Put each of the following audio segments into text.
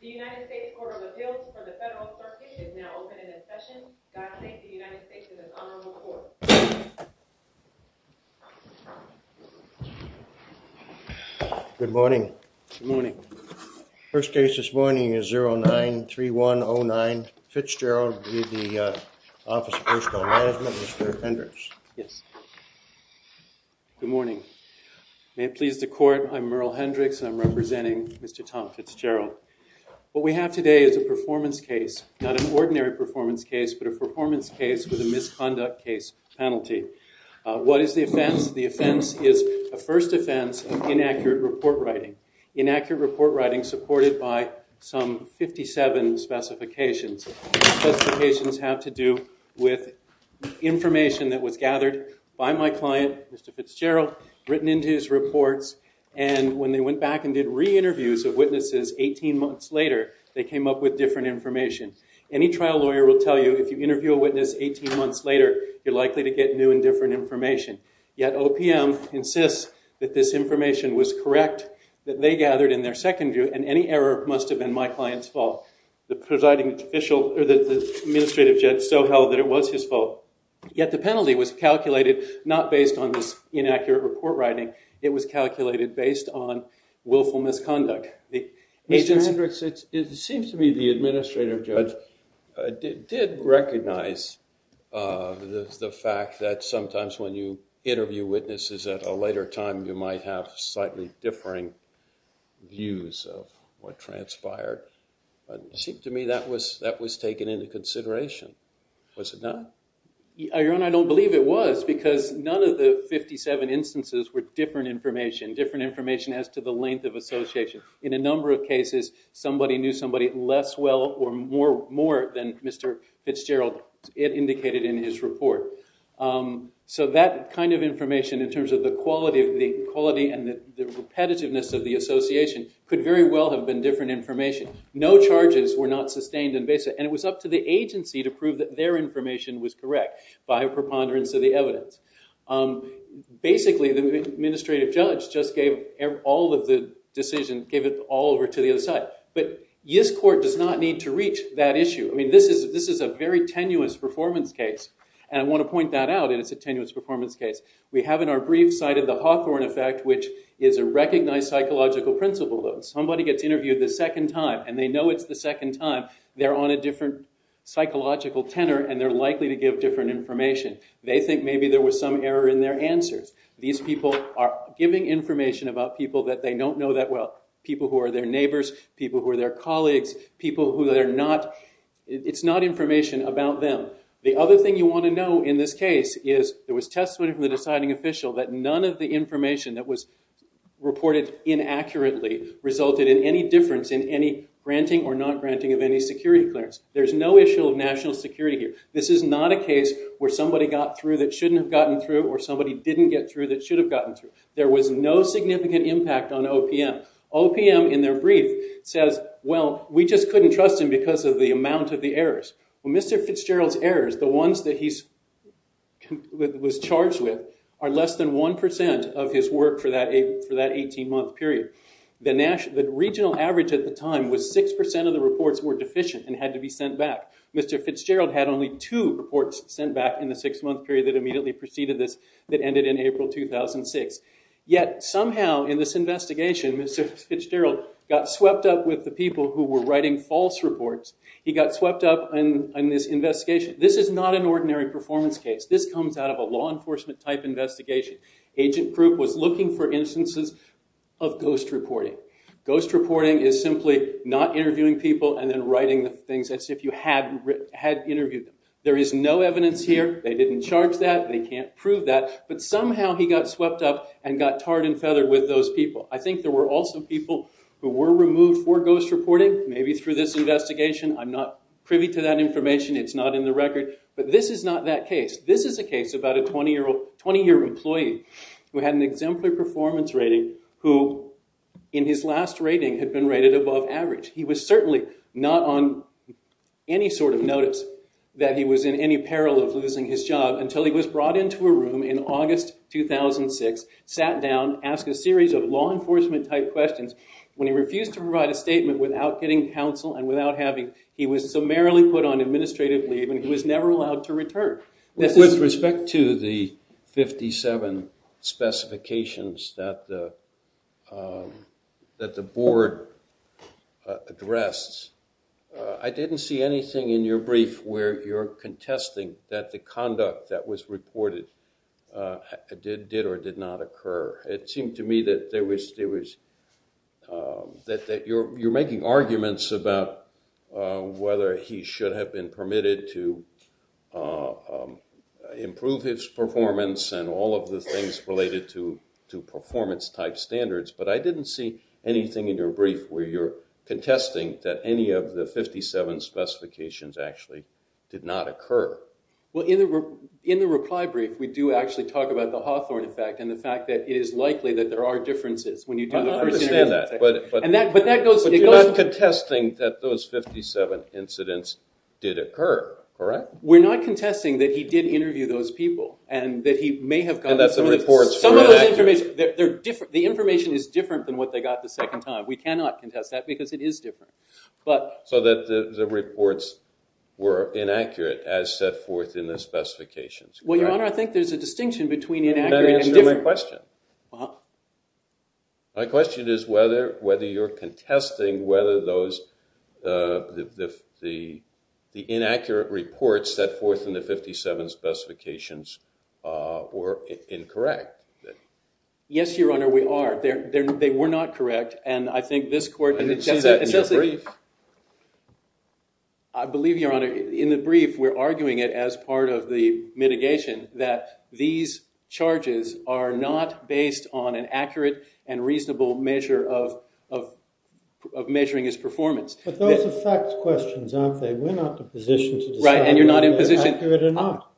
The United States Court of Appeals for the Federal Circuit is now open for discussion. I thank the United States for this honorable court. Good morning. Good morning. First case this morning is 09-3109, Fitzgerald v. the Office of Personal Management, Mr. Hendricks. Yes. Good morning. May it please the court, I'm Merle Hendricks and I'm representing Mr. Tom Fitzgerald. What we have today is a performance case, not an ordinary performance case, but a performance case with a misconduct case penalty. What is the offense? The offense is a first offense of inaccurate report writing. Inaccurate report writing supported by some 57 specifications. Specifications have to do with information that was gathered by my client, Mr. Fitzgerald, written into his reports, and when they went back and did re-interviews of witnesses 18 months later, they came up with different information. Any trial lawyer will tell you if you interview a witness 18 months later, you're likely to get new and different information. Yet, OPM insists that this information was correct, that they gathered in their second view, and any error must have been my client's fault. The presiding official, or the administrative judge, so held that it was his fault. Yet, the penalty was calculated not based on this inaccurate report writing, it was calculated based on willful misconduct. Mr. Hendricks, it seems to me the administrative judge did recognize the fact that sometimes when you interview witnesses at a later time, you might have slightly differing views of what transpired. It seemed to me that was taken into consideration. Was it not? Your Honor, I don't believe it was, because none of the 57 instances were different information, different information as to the length of association. In a number of cases, somebody knew somebody less well or more than Mr. Fitzgerald indicated in his report. So that kind of information, in terms of the quality and the repetitiveness of the association, could very well have been different information. No charges were not sustained. And it was up to the agency to prove that their information was correct by a preponderance of the evidence. Basically, the administrative judge just gave all of the decision, gave it all over to the other side. But this court does not need to reach that issue. I mean, this is a very tenuous performance case. And I want to point that out, and it's a tenuous performance case. We have in our brief cited the Hawthorne effect, which is a recognized psychological principle. If somebody gets interviewed the second time, and they know it's the second time, they're on a different psychological tenor, and they're likely to give different information. They think maybe there was some error in their answers. These people are giving information about people that they don't know that well. People who are their neighbors, people who are their colleagues, people who they're not, it's not information about them. The other thing you want to know in this case is, there was testimony from the deciding official that none of the information that was reported inaccurately resulted in any difference in any granting or not granting of any security clearance. There's no issue of national security here. This is not a case where somebody got through that shouldn't have gotten through, or somebody didn't get through that should have gotten through. There was no significant impact on OPM. OPM, in their brief, says, well, we just couldn't trust him because of the amount of the errors. Well, Mr. Fitzgerald's errors, the ones that he was charged with, are less than 1% of his work for that 18-month period. The regional average at the time was 6% of the reports were deficient and had to be sent back. Mr. Fitzgerald had only two reports sent back in the six-month period that immediately preceded this that ended in April 2006. Yet, somehow, in this investigation, Mr. Fitzgerald got swept up with the people who were writing false reports. He got swept up in this investigation. This is not an ordinary performance case. This comes out of a law enforcement type investigation. Agent Krupp was looking for instances of ghost reporting. Ghost reporting is simply not interviewing people and then writing things as if you had interviewed them. There is no evidence here. They didn't charge that. They can't prove that. But somehow, he got swept up and got tarred and feathered with those people. I think there were also people who were removed for ghost reporting, maybe through this investigation, I'm not privy to that information. It's not in the record. But this is not that case. This is a case about a 20-year-old employee who had an exemplary performance rating who, in his last rating, had been rated above average. He was certainly not on any sort of notice that he was in any peril of losing his job until he was brought into a room in August 2006, sat down, asked a series of law enforcement type questions. When he refused to provide a statement without getting counsel and without having, he was summarily put on administrative leave and he was never allowed to return. With respect to the 57 specifications that the board addressed, I didn't see anything in your brief where you're contesting that the conduct that was reported did or did not occur. It seemed to me that there was, that you're making arguments about whether he should have been permitted to improve his performance and all of the things related to performance type standards. But I didn't see anything in your brief where you're contesting that any of the 57 specifications actually did not occur. Well, in the reply brief, we do actually talk about the Hawthorne effect and the fact that it is likely that there are differences when you do the first interview. I understand that. But that goes... But you're not contesting that those 57 incidents did occur, correct? We're not contesting that he did interview those people and that he may have gotten... And that the reports were inaccurate. Some of those information, the information is different than what they got the second time. We cannot contest that because it is different. So that the reports were inaccurate as set forth in the specifications. Well, Your Honor, I think there's a distinction between inaccurate and different. That answers my question. My question is whether you're contesting whether the inaccurate reports set forth in the 57 specifications were incorrect. Yes, Your Honor, we are. They were not correct. And I think this court... I didn't see that in your brief. I believe, Your Honor, in the brief, we're arguing it as part of the mitigation that these charges are not based on an accurate and reasonable measure of measuring his performance. But those are fact questions, aren't they? We're not in a position to decide whether they're accurate or not.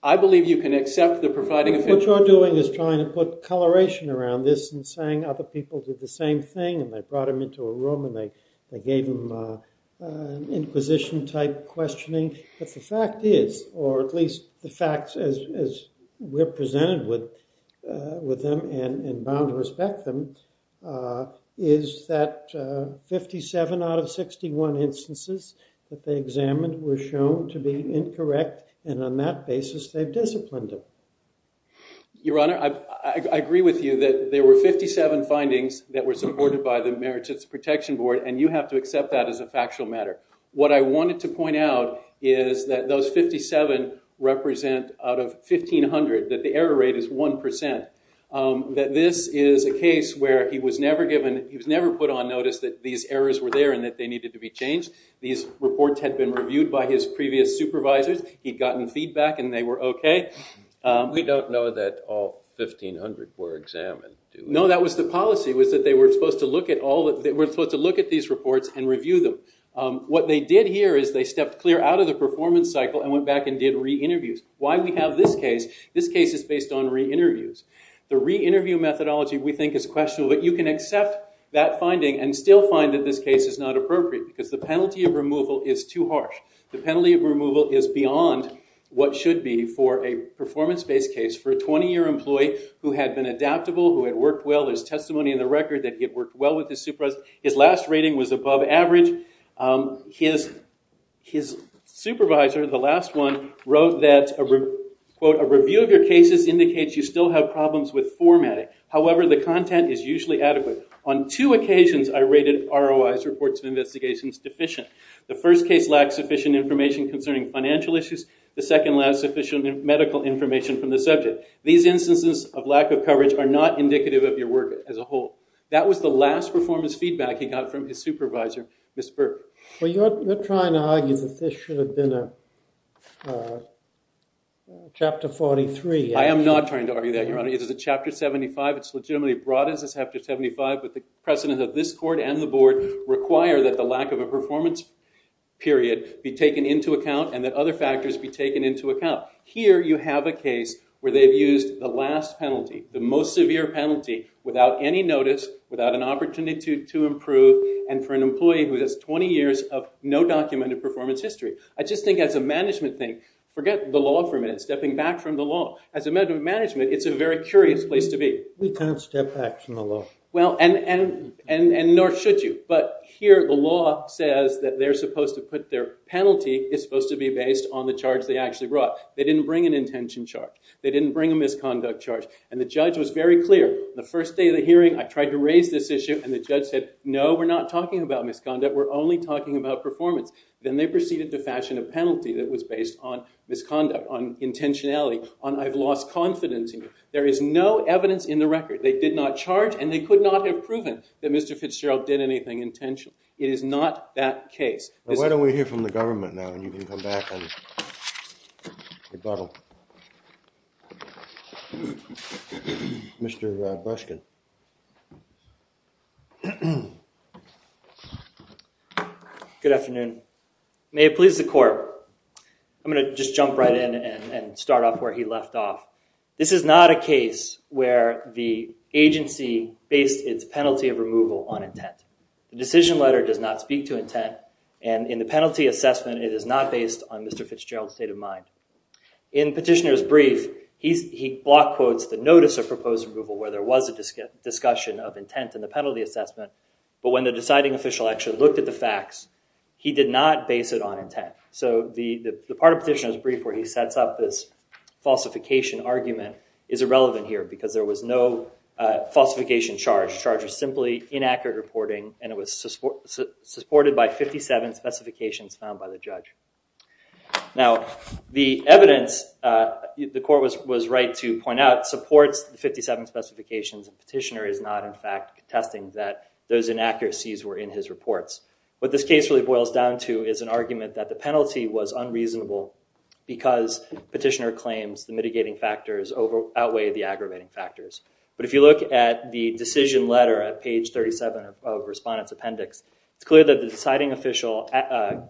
I believe you can accept the providing... What you're doing is trying to put coloration around this and saying other people did the same thing and they brought him into a room and they gave him an inquisition-type questioning. But the fact is, or at least the facts as we're presented with them and bound to respect them, is that 57 out of 61 instances that they examined were shown to be incorrect. And on that basis, they've disciplined him. Your Honor, I agree with you that there were 57 findings that were supported by the Merit Protection Board, and you have to accept that as a factual matter. What I wanted to point out is that those 57 represent, out of 1,500, that the error rate is 1%. That this is a case where he was never given... He was never put on notice that these errors were there and that they needed to be changed. These reports had been reviewed by his previous supervisors. He'd gotten feedback and they were okay. We don't know that all 1,500 were examined. No, that was the policy, was that they were supposed to look at these reports and review them. What they did here is they stepped clear out of the performance cycle and went back and did re-interviews. Why we have this case, this case is based on re-interviews. The re-interview methodology, we think, is questionable, but you can accept that finding and still find that this case is not appropriate because the penalty of removal is too harsh. The penalty of removal is beyond what should be for a performance-based case for a 20-year employee who had been adaptable, who had worked well. There's testimony in the record that he had worked well with his supervisors. His last rating was above average. His supervisor, the last one, wrote that, quote, a review of your cases indicates you still have problems with formatting. However, the content is usually adequate. On two occasions, I rated ROI's, reports of investigations, deficient. The first case lacked sufficient information concerning financial issues. The second lacked sufficient medical information from the subject. These instances of lack of coverage are not indicative of your work as a whole. That was the last performance feedback he got from his supervisor, Ms. Burke. Well, you're trying to argue that this should have been a chapter 43. I am not trying to argue that, Your Honor. It is a chapter 75. It's legitimately broad as a chapter 75, but the precedent of this court and the board require that the lack of a performance period be taken into account and that other factors be taken into account. Here, you have a case where they've used the last penalty, the most severe penalty, without any notice, without an opportunity to improve, and for an employee who has 20 years of no documented performance history. I just think as a management thing, forget the law for a minute, stepping back from the law. As a matter of management, it's a very curious place to be. We can't step back from the law. Nor should you. But here, the law says that their penalty is supposed to be based on the charge they actually brought. They didn't bring an intention charge. They didn't bring a misconduct charge. And the judge was very clear. The first day of the hearing, I tried to raise this issue, and the judge said, no, we're not talking about misconduct. We're only talking about performance. Then they proceeded to fashion a penalty that was based on misconduct, on intentionality, on I've lost confidence in you. There is no evidence in the record. They did not charge, and they could not have proven that Mr. Fitzgerald did anything intentionally. It is not that case. Why don't we hear from the government now, and you can come back and rebuttal. Mr. Breskin. Good afternoon. May it please the court. I'm going to just jump right in and start off where he left off. This is not a case where the agency based its penalty of removal on intent. The decision letter does not speak to intent, and in the penalty assessment, it is not based on Mr. Fitzgerald's state of mind. In petitioner's brief, he block quotes the notice of proposed removal where there was a discussion of intent in the penalty assessment, but when the deciding official actually looked at the facts, he did not base it on intent. The part of petitioner's brief where he sets up this falsification argument is irrelevant here, because there was no falsification charge. The charge was simply inaccurate reporting, and it was supported by 57 specifications found by the judge. The evidence the court was right to point out supports the 57 specifications, and petitioner is not in fact contesting that those inaccuracies were in his reports. What this case really boils down to is an argument that the penalty was unreasonable because petitioner claims the mitigating factors outweigh the aggravating factors. But if you look at the decision letter at page 37 of respondent's appendix, it's clear that the deciding official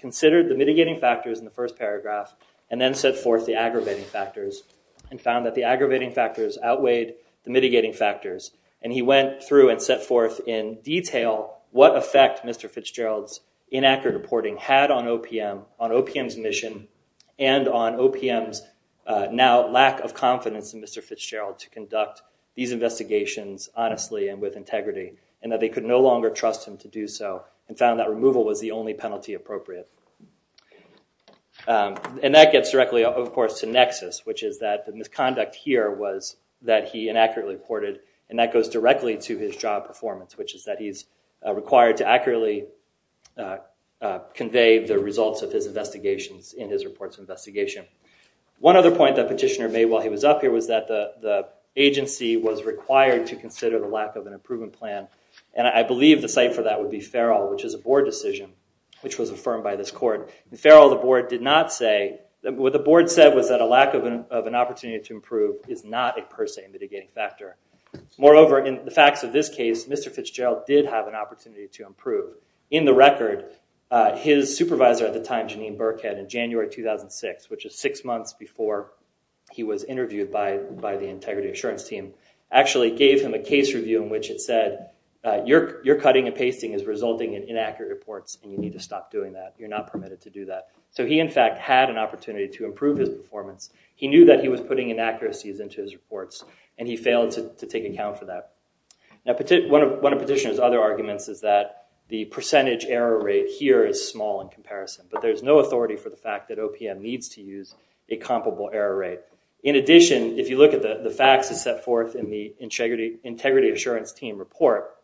considered the mitigating factors in the first paragraph and then set forth the aggravating factors and found that the aggravating factors outweighed the mitigating factors, and he went through and set forth in detail what effect Mr. Fitzgerald inaccurate reporting had on OPM, on OPM's mission, and on OPM's now lack of confidence in Mr. Fitzgerald to conduct these investigations honestly and with integrity, and that they could no longer trust him to do so, and found that removal was the only penalty appropriate. And that gets directly, of course, to nexus, which is that the misconduct here was that he inaccurately reported, and that goes directly to his job performance, which is that he's required to accurately convey the results of his investigations in his reports of investigation. One other point that petitioner made while he was up here was that the agency was required to consider the lack of an improvement plan, and I believe the site for that would be Farrell, which is a board decision, which was affirmed by this court. In Farrell, the board did not say, what the board said was that a lack of an opportunity to improve is not a per se mitigating factor. Moreover, in the facts of this case, Mr. Fitzgerald did have an opportunity to improve. In the record, his supervisor at the time, Janine Burkhead, in January 2006, which is six months before he was interviewed by the integrity assurance team, actually gave him a case review in which it said, you're cutting and pasting is resulting in inaccurate reports, and you need to stop doing that. You're not permitted to do that. So he, in fact, had an opportunity to improve his performance. He knew that he was putting inaccuracies into his reports, and he failed to take account for that. Now, one of petitioner's other arguments is that the percentage error rate here is small in comparison, but there's no authority for the fact that OPM needs to use a comparable error rate. In addition, if you look at the facts that's set forth in the integrity assurance team report,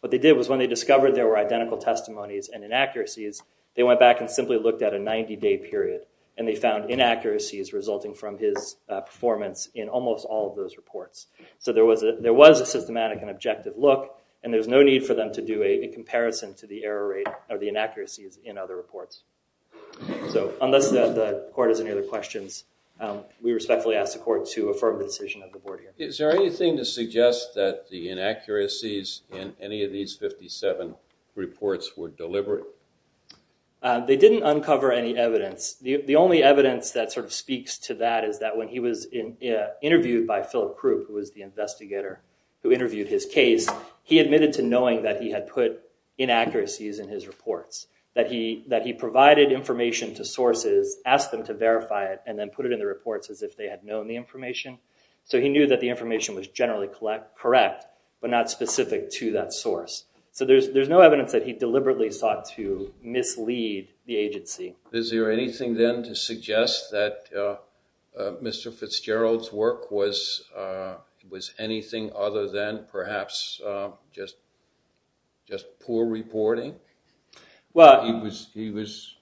what they did was when they discovered there were identical testimonies and inaccuracies, they went back and simply looked at a 90-day period, and they found inaccuracies resulting from his performance in almost all of those reports. So there was a systematic and objective look, and there's no need for them to do a comparison to the error rate or the inaccuracies in other reports. So unless the court has any other questions, we respectfully ask the court to affirm the decision of the board here. Is there anything to suggest that the inaccuracies in any of these 57 reports were deliberate? They didn't uncover any evidence. The only evidence that sort of speaks to that is that when he was interviewed by Philip Krupp, who was the investigator who interviewed his case, he admitted to knowing that he had put inaccuracies in his reports, that he provided information to sources, asked them to verify it, and then put it in the reports as if they had known the information. So he knew that the information was generally correct, but not specific to that source. So there's no evidence that he deliberately sought to mislead the agency. Is there anything, then, to suggest that Mr. Fitzgerald's work was anything other than perhaps just poor reporting? He was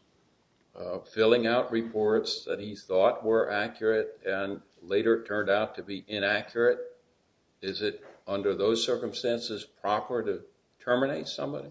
filling out reports that he thought were accurate and later turned out to be inaccurate. Is it, under those circumstances, proper to terminate somebody?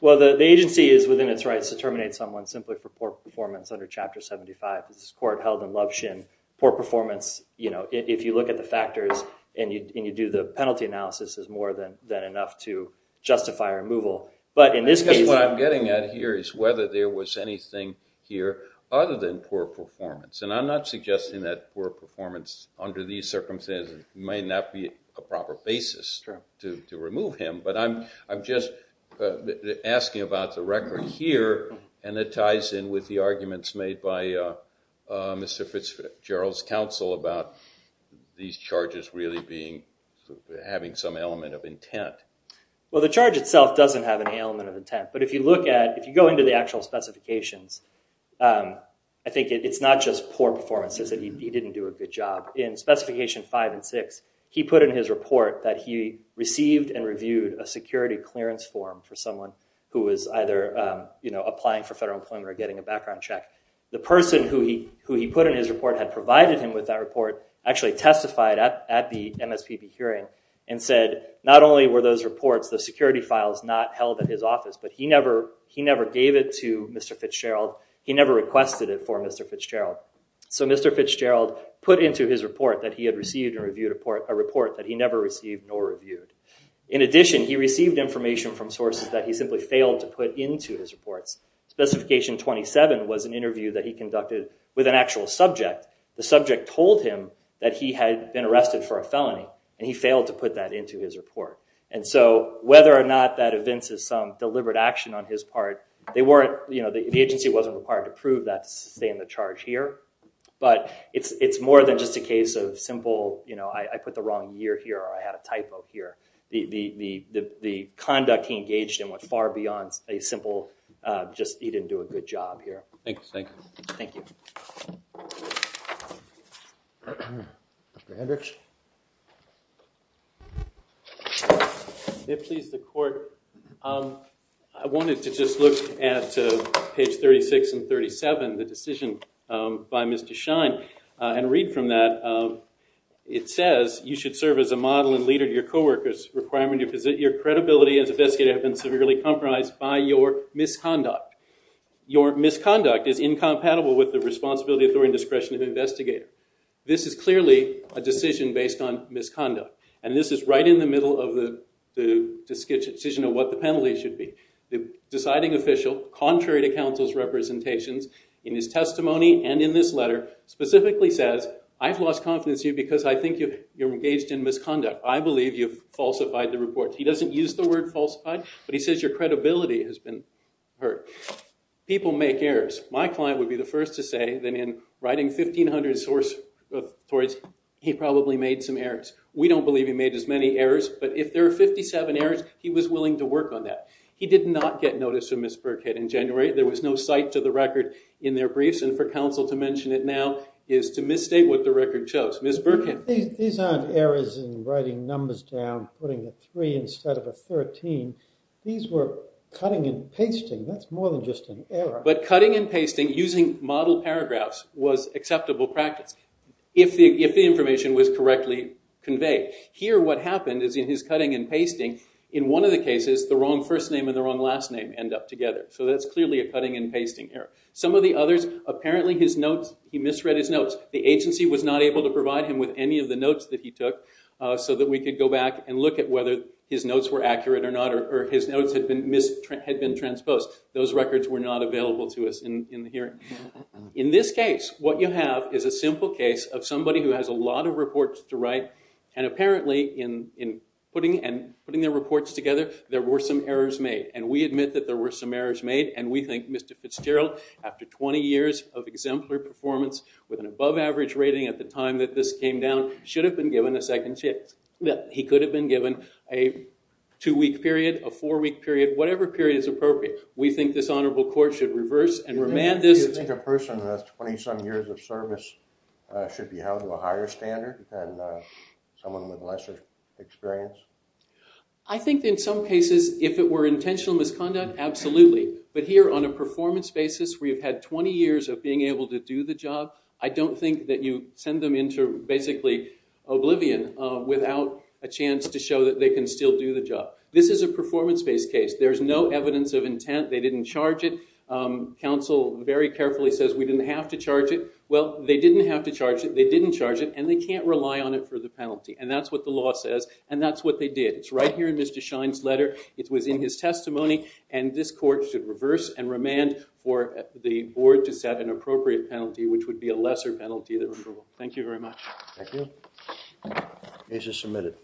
Well, the agency is within its rights to terminate someone simply for poor performance under Chapter 75. This is a court held in Luption. Poor performance, if you look at the factors and you do the penalty analysis, is more than enough to justify removal. I guess what I'm getting at here is whether there was anything here other than poor performance. And I'm not suggesting that poor performance under these circumstances may not be a proper basis to remove him. But I'm just asking about the record here, and it ties in with the arguments made by Mr. Fitzgerald's counsel about these charges really having some element of intent. Well, the charge itself doesn't have any element of intent. But if you look at, if you go into the actual specifications, I think it's not just poor performance. He didn't do a good job. In Specification 5 and 6, he put in his report that he received and reviewed a security clearance form for someone who was either applying for federal employment or getting a background check. The person who he put in his report had provided him with that report actually testified at the MSPB hearing and said, not only were those reports, those security files, not held at his office, but he never gave it to Mr. Fitzgerald. He never requested it for Mr. Fitzgerald. So Mr. Fitzgerald put into his report that he had received and reviewed a report that he never received nor reviewed. In addition, he received information from sources that he simply failed to put into his reports. Specification 27 was an interview that he conducted with an actual subject. The subject told him that he had been arrested for a felony, and he failed to put that into his report. And so whether or not that evinces some deliberate action on his part, the agency wasn't required to prove that to stay in the charge here. But it's more than just a case of simple, I put the wrong year here or I had a typo here. The conduct he engaged in went far beyond a simple, just he didn't do a good job here. Thank you. Thank you. Mr. Hendricks? If it pleases the court, I wanted to just look at page 36 and 37, the decision by Mr. Shine, and read from that. It says, you should serve as a model and leader to your coworkers, requiring your credibility as an investigator to have been severely compromised by your misconduct. Your misconduct is incompatible with the responsibility, authority, and discretion of the investigator. This is clearly a decision based on misconduct. And this is right in the middle of the decision of what the penalty should be. The deciding official, contrary to counsel's representations in his testimony and in this letter, specifically says, I've lost confidence in you because I think you're engaged in misconduct. I believe you've falsified the report. He doesn't use the word falsified, but he says your credibility has been hurt. People make errors. My client would be the first to say that in writing 1,500 source reports, he probably made some errors. We don't believe he made as many errors, but if there are 57 errors, he was willing to work on that. He did not get notice of Ms. Burkhead in January. There was no cite to the record in their briefs, and for counsel to mention it now is to misstate what the record shows. Ms. Burkhead. These aren't errors in writing numbers down, putting a 3 instead of a 13. These were cutting and pasting. That's more than just an error. But cutting and pasting using model paragraphs was acceptable practice. If the information was correctly conveyed. Here, what happened is in his cutting and pasting, in one of the cases, the wrong first name and the wrong last name end up together. So that's clearly a cutting and pasting error. Some of the others, apparently he misread his notes. The agency was not able to provide him with any of the notes that he took, so that we could go back and look at whether his notes were accurate or not, or his notes had been transposed. Those records were not available to us in the hearing. In this case, what you have is a simple case of somebody who has a lot of reports to write, and apparently in putting their reports together, there were some errors made. And we admit that there were some errors made, and we think Mr. Fitzgerald, after 20 years of exemplary performance, with an above average rating at the time that this came down, should have been given a second chance. He could have been given a two-week period, a four-week period, whatever period is appropriate. We think this honorable court should reverse and remand this. Do you think a person with 20-some years of service should be held to a higher standard than someone with lesser experience? I think in some cases, if it were intentional misconduct, absolutely. But here, on a performance basis, where you've had 20 years of being able to do the job, I don't think that you send them into basically oblivion without a chance to show that they can still do the job. This is a performance-based case. There's no evidence of intent. They didn't charge it. Counsel very carefully says, we didn't have to charge it. Well, they didn't have to charge it, they didn't charge it, and they can't rely on it for the penalty. And that's what the law says, and that's what they did. It's right here in Mr. Schein's letter. It was in his testimony, and this court should reverse and remand for the board to set an appropriate penalty, which would be a lesser penalty than approval. Thank you very much. Thank you. Case is submitted.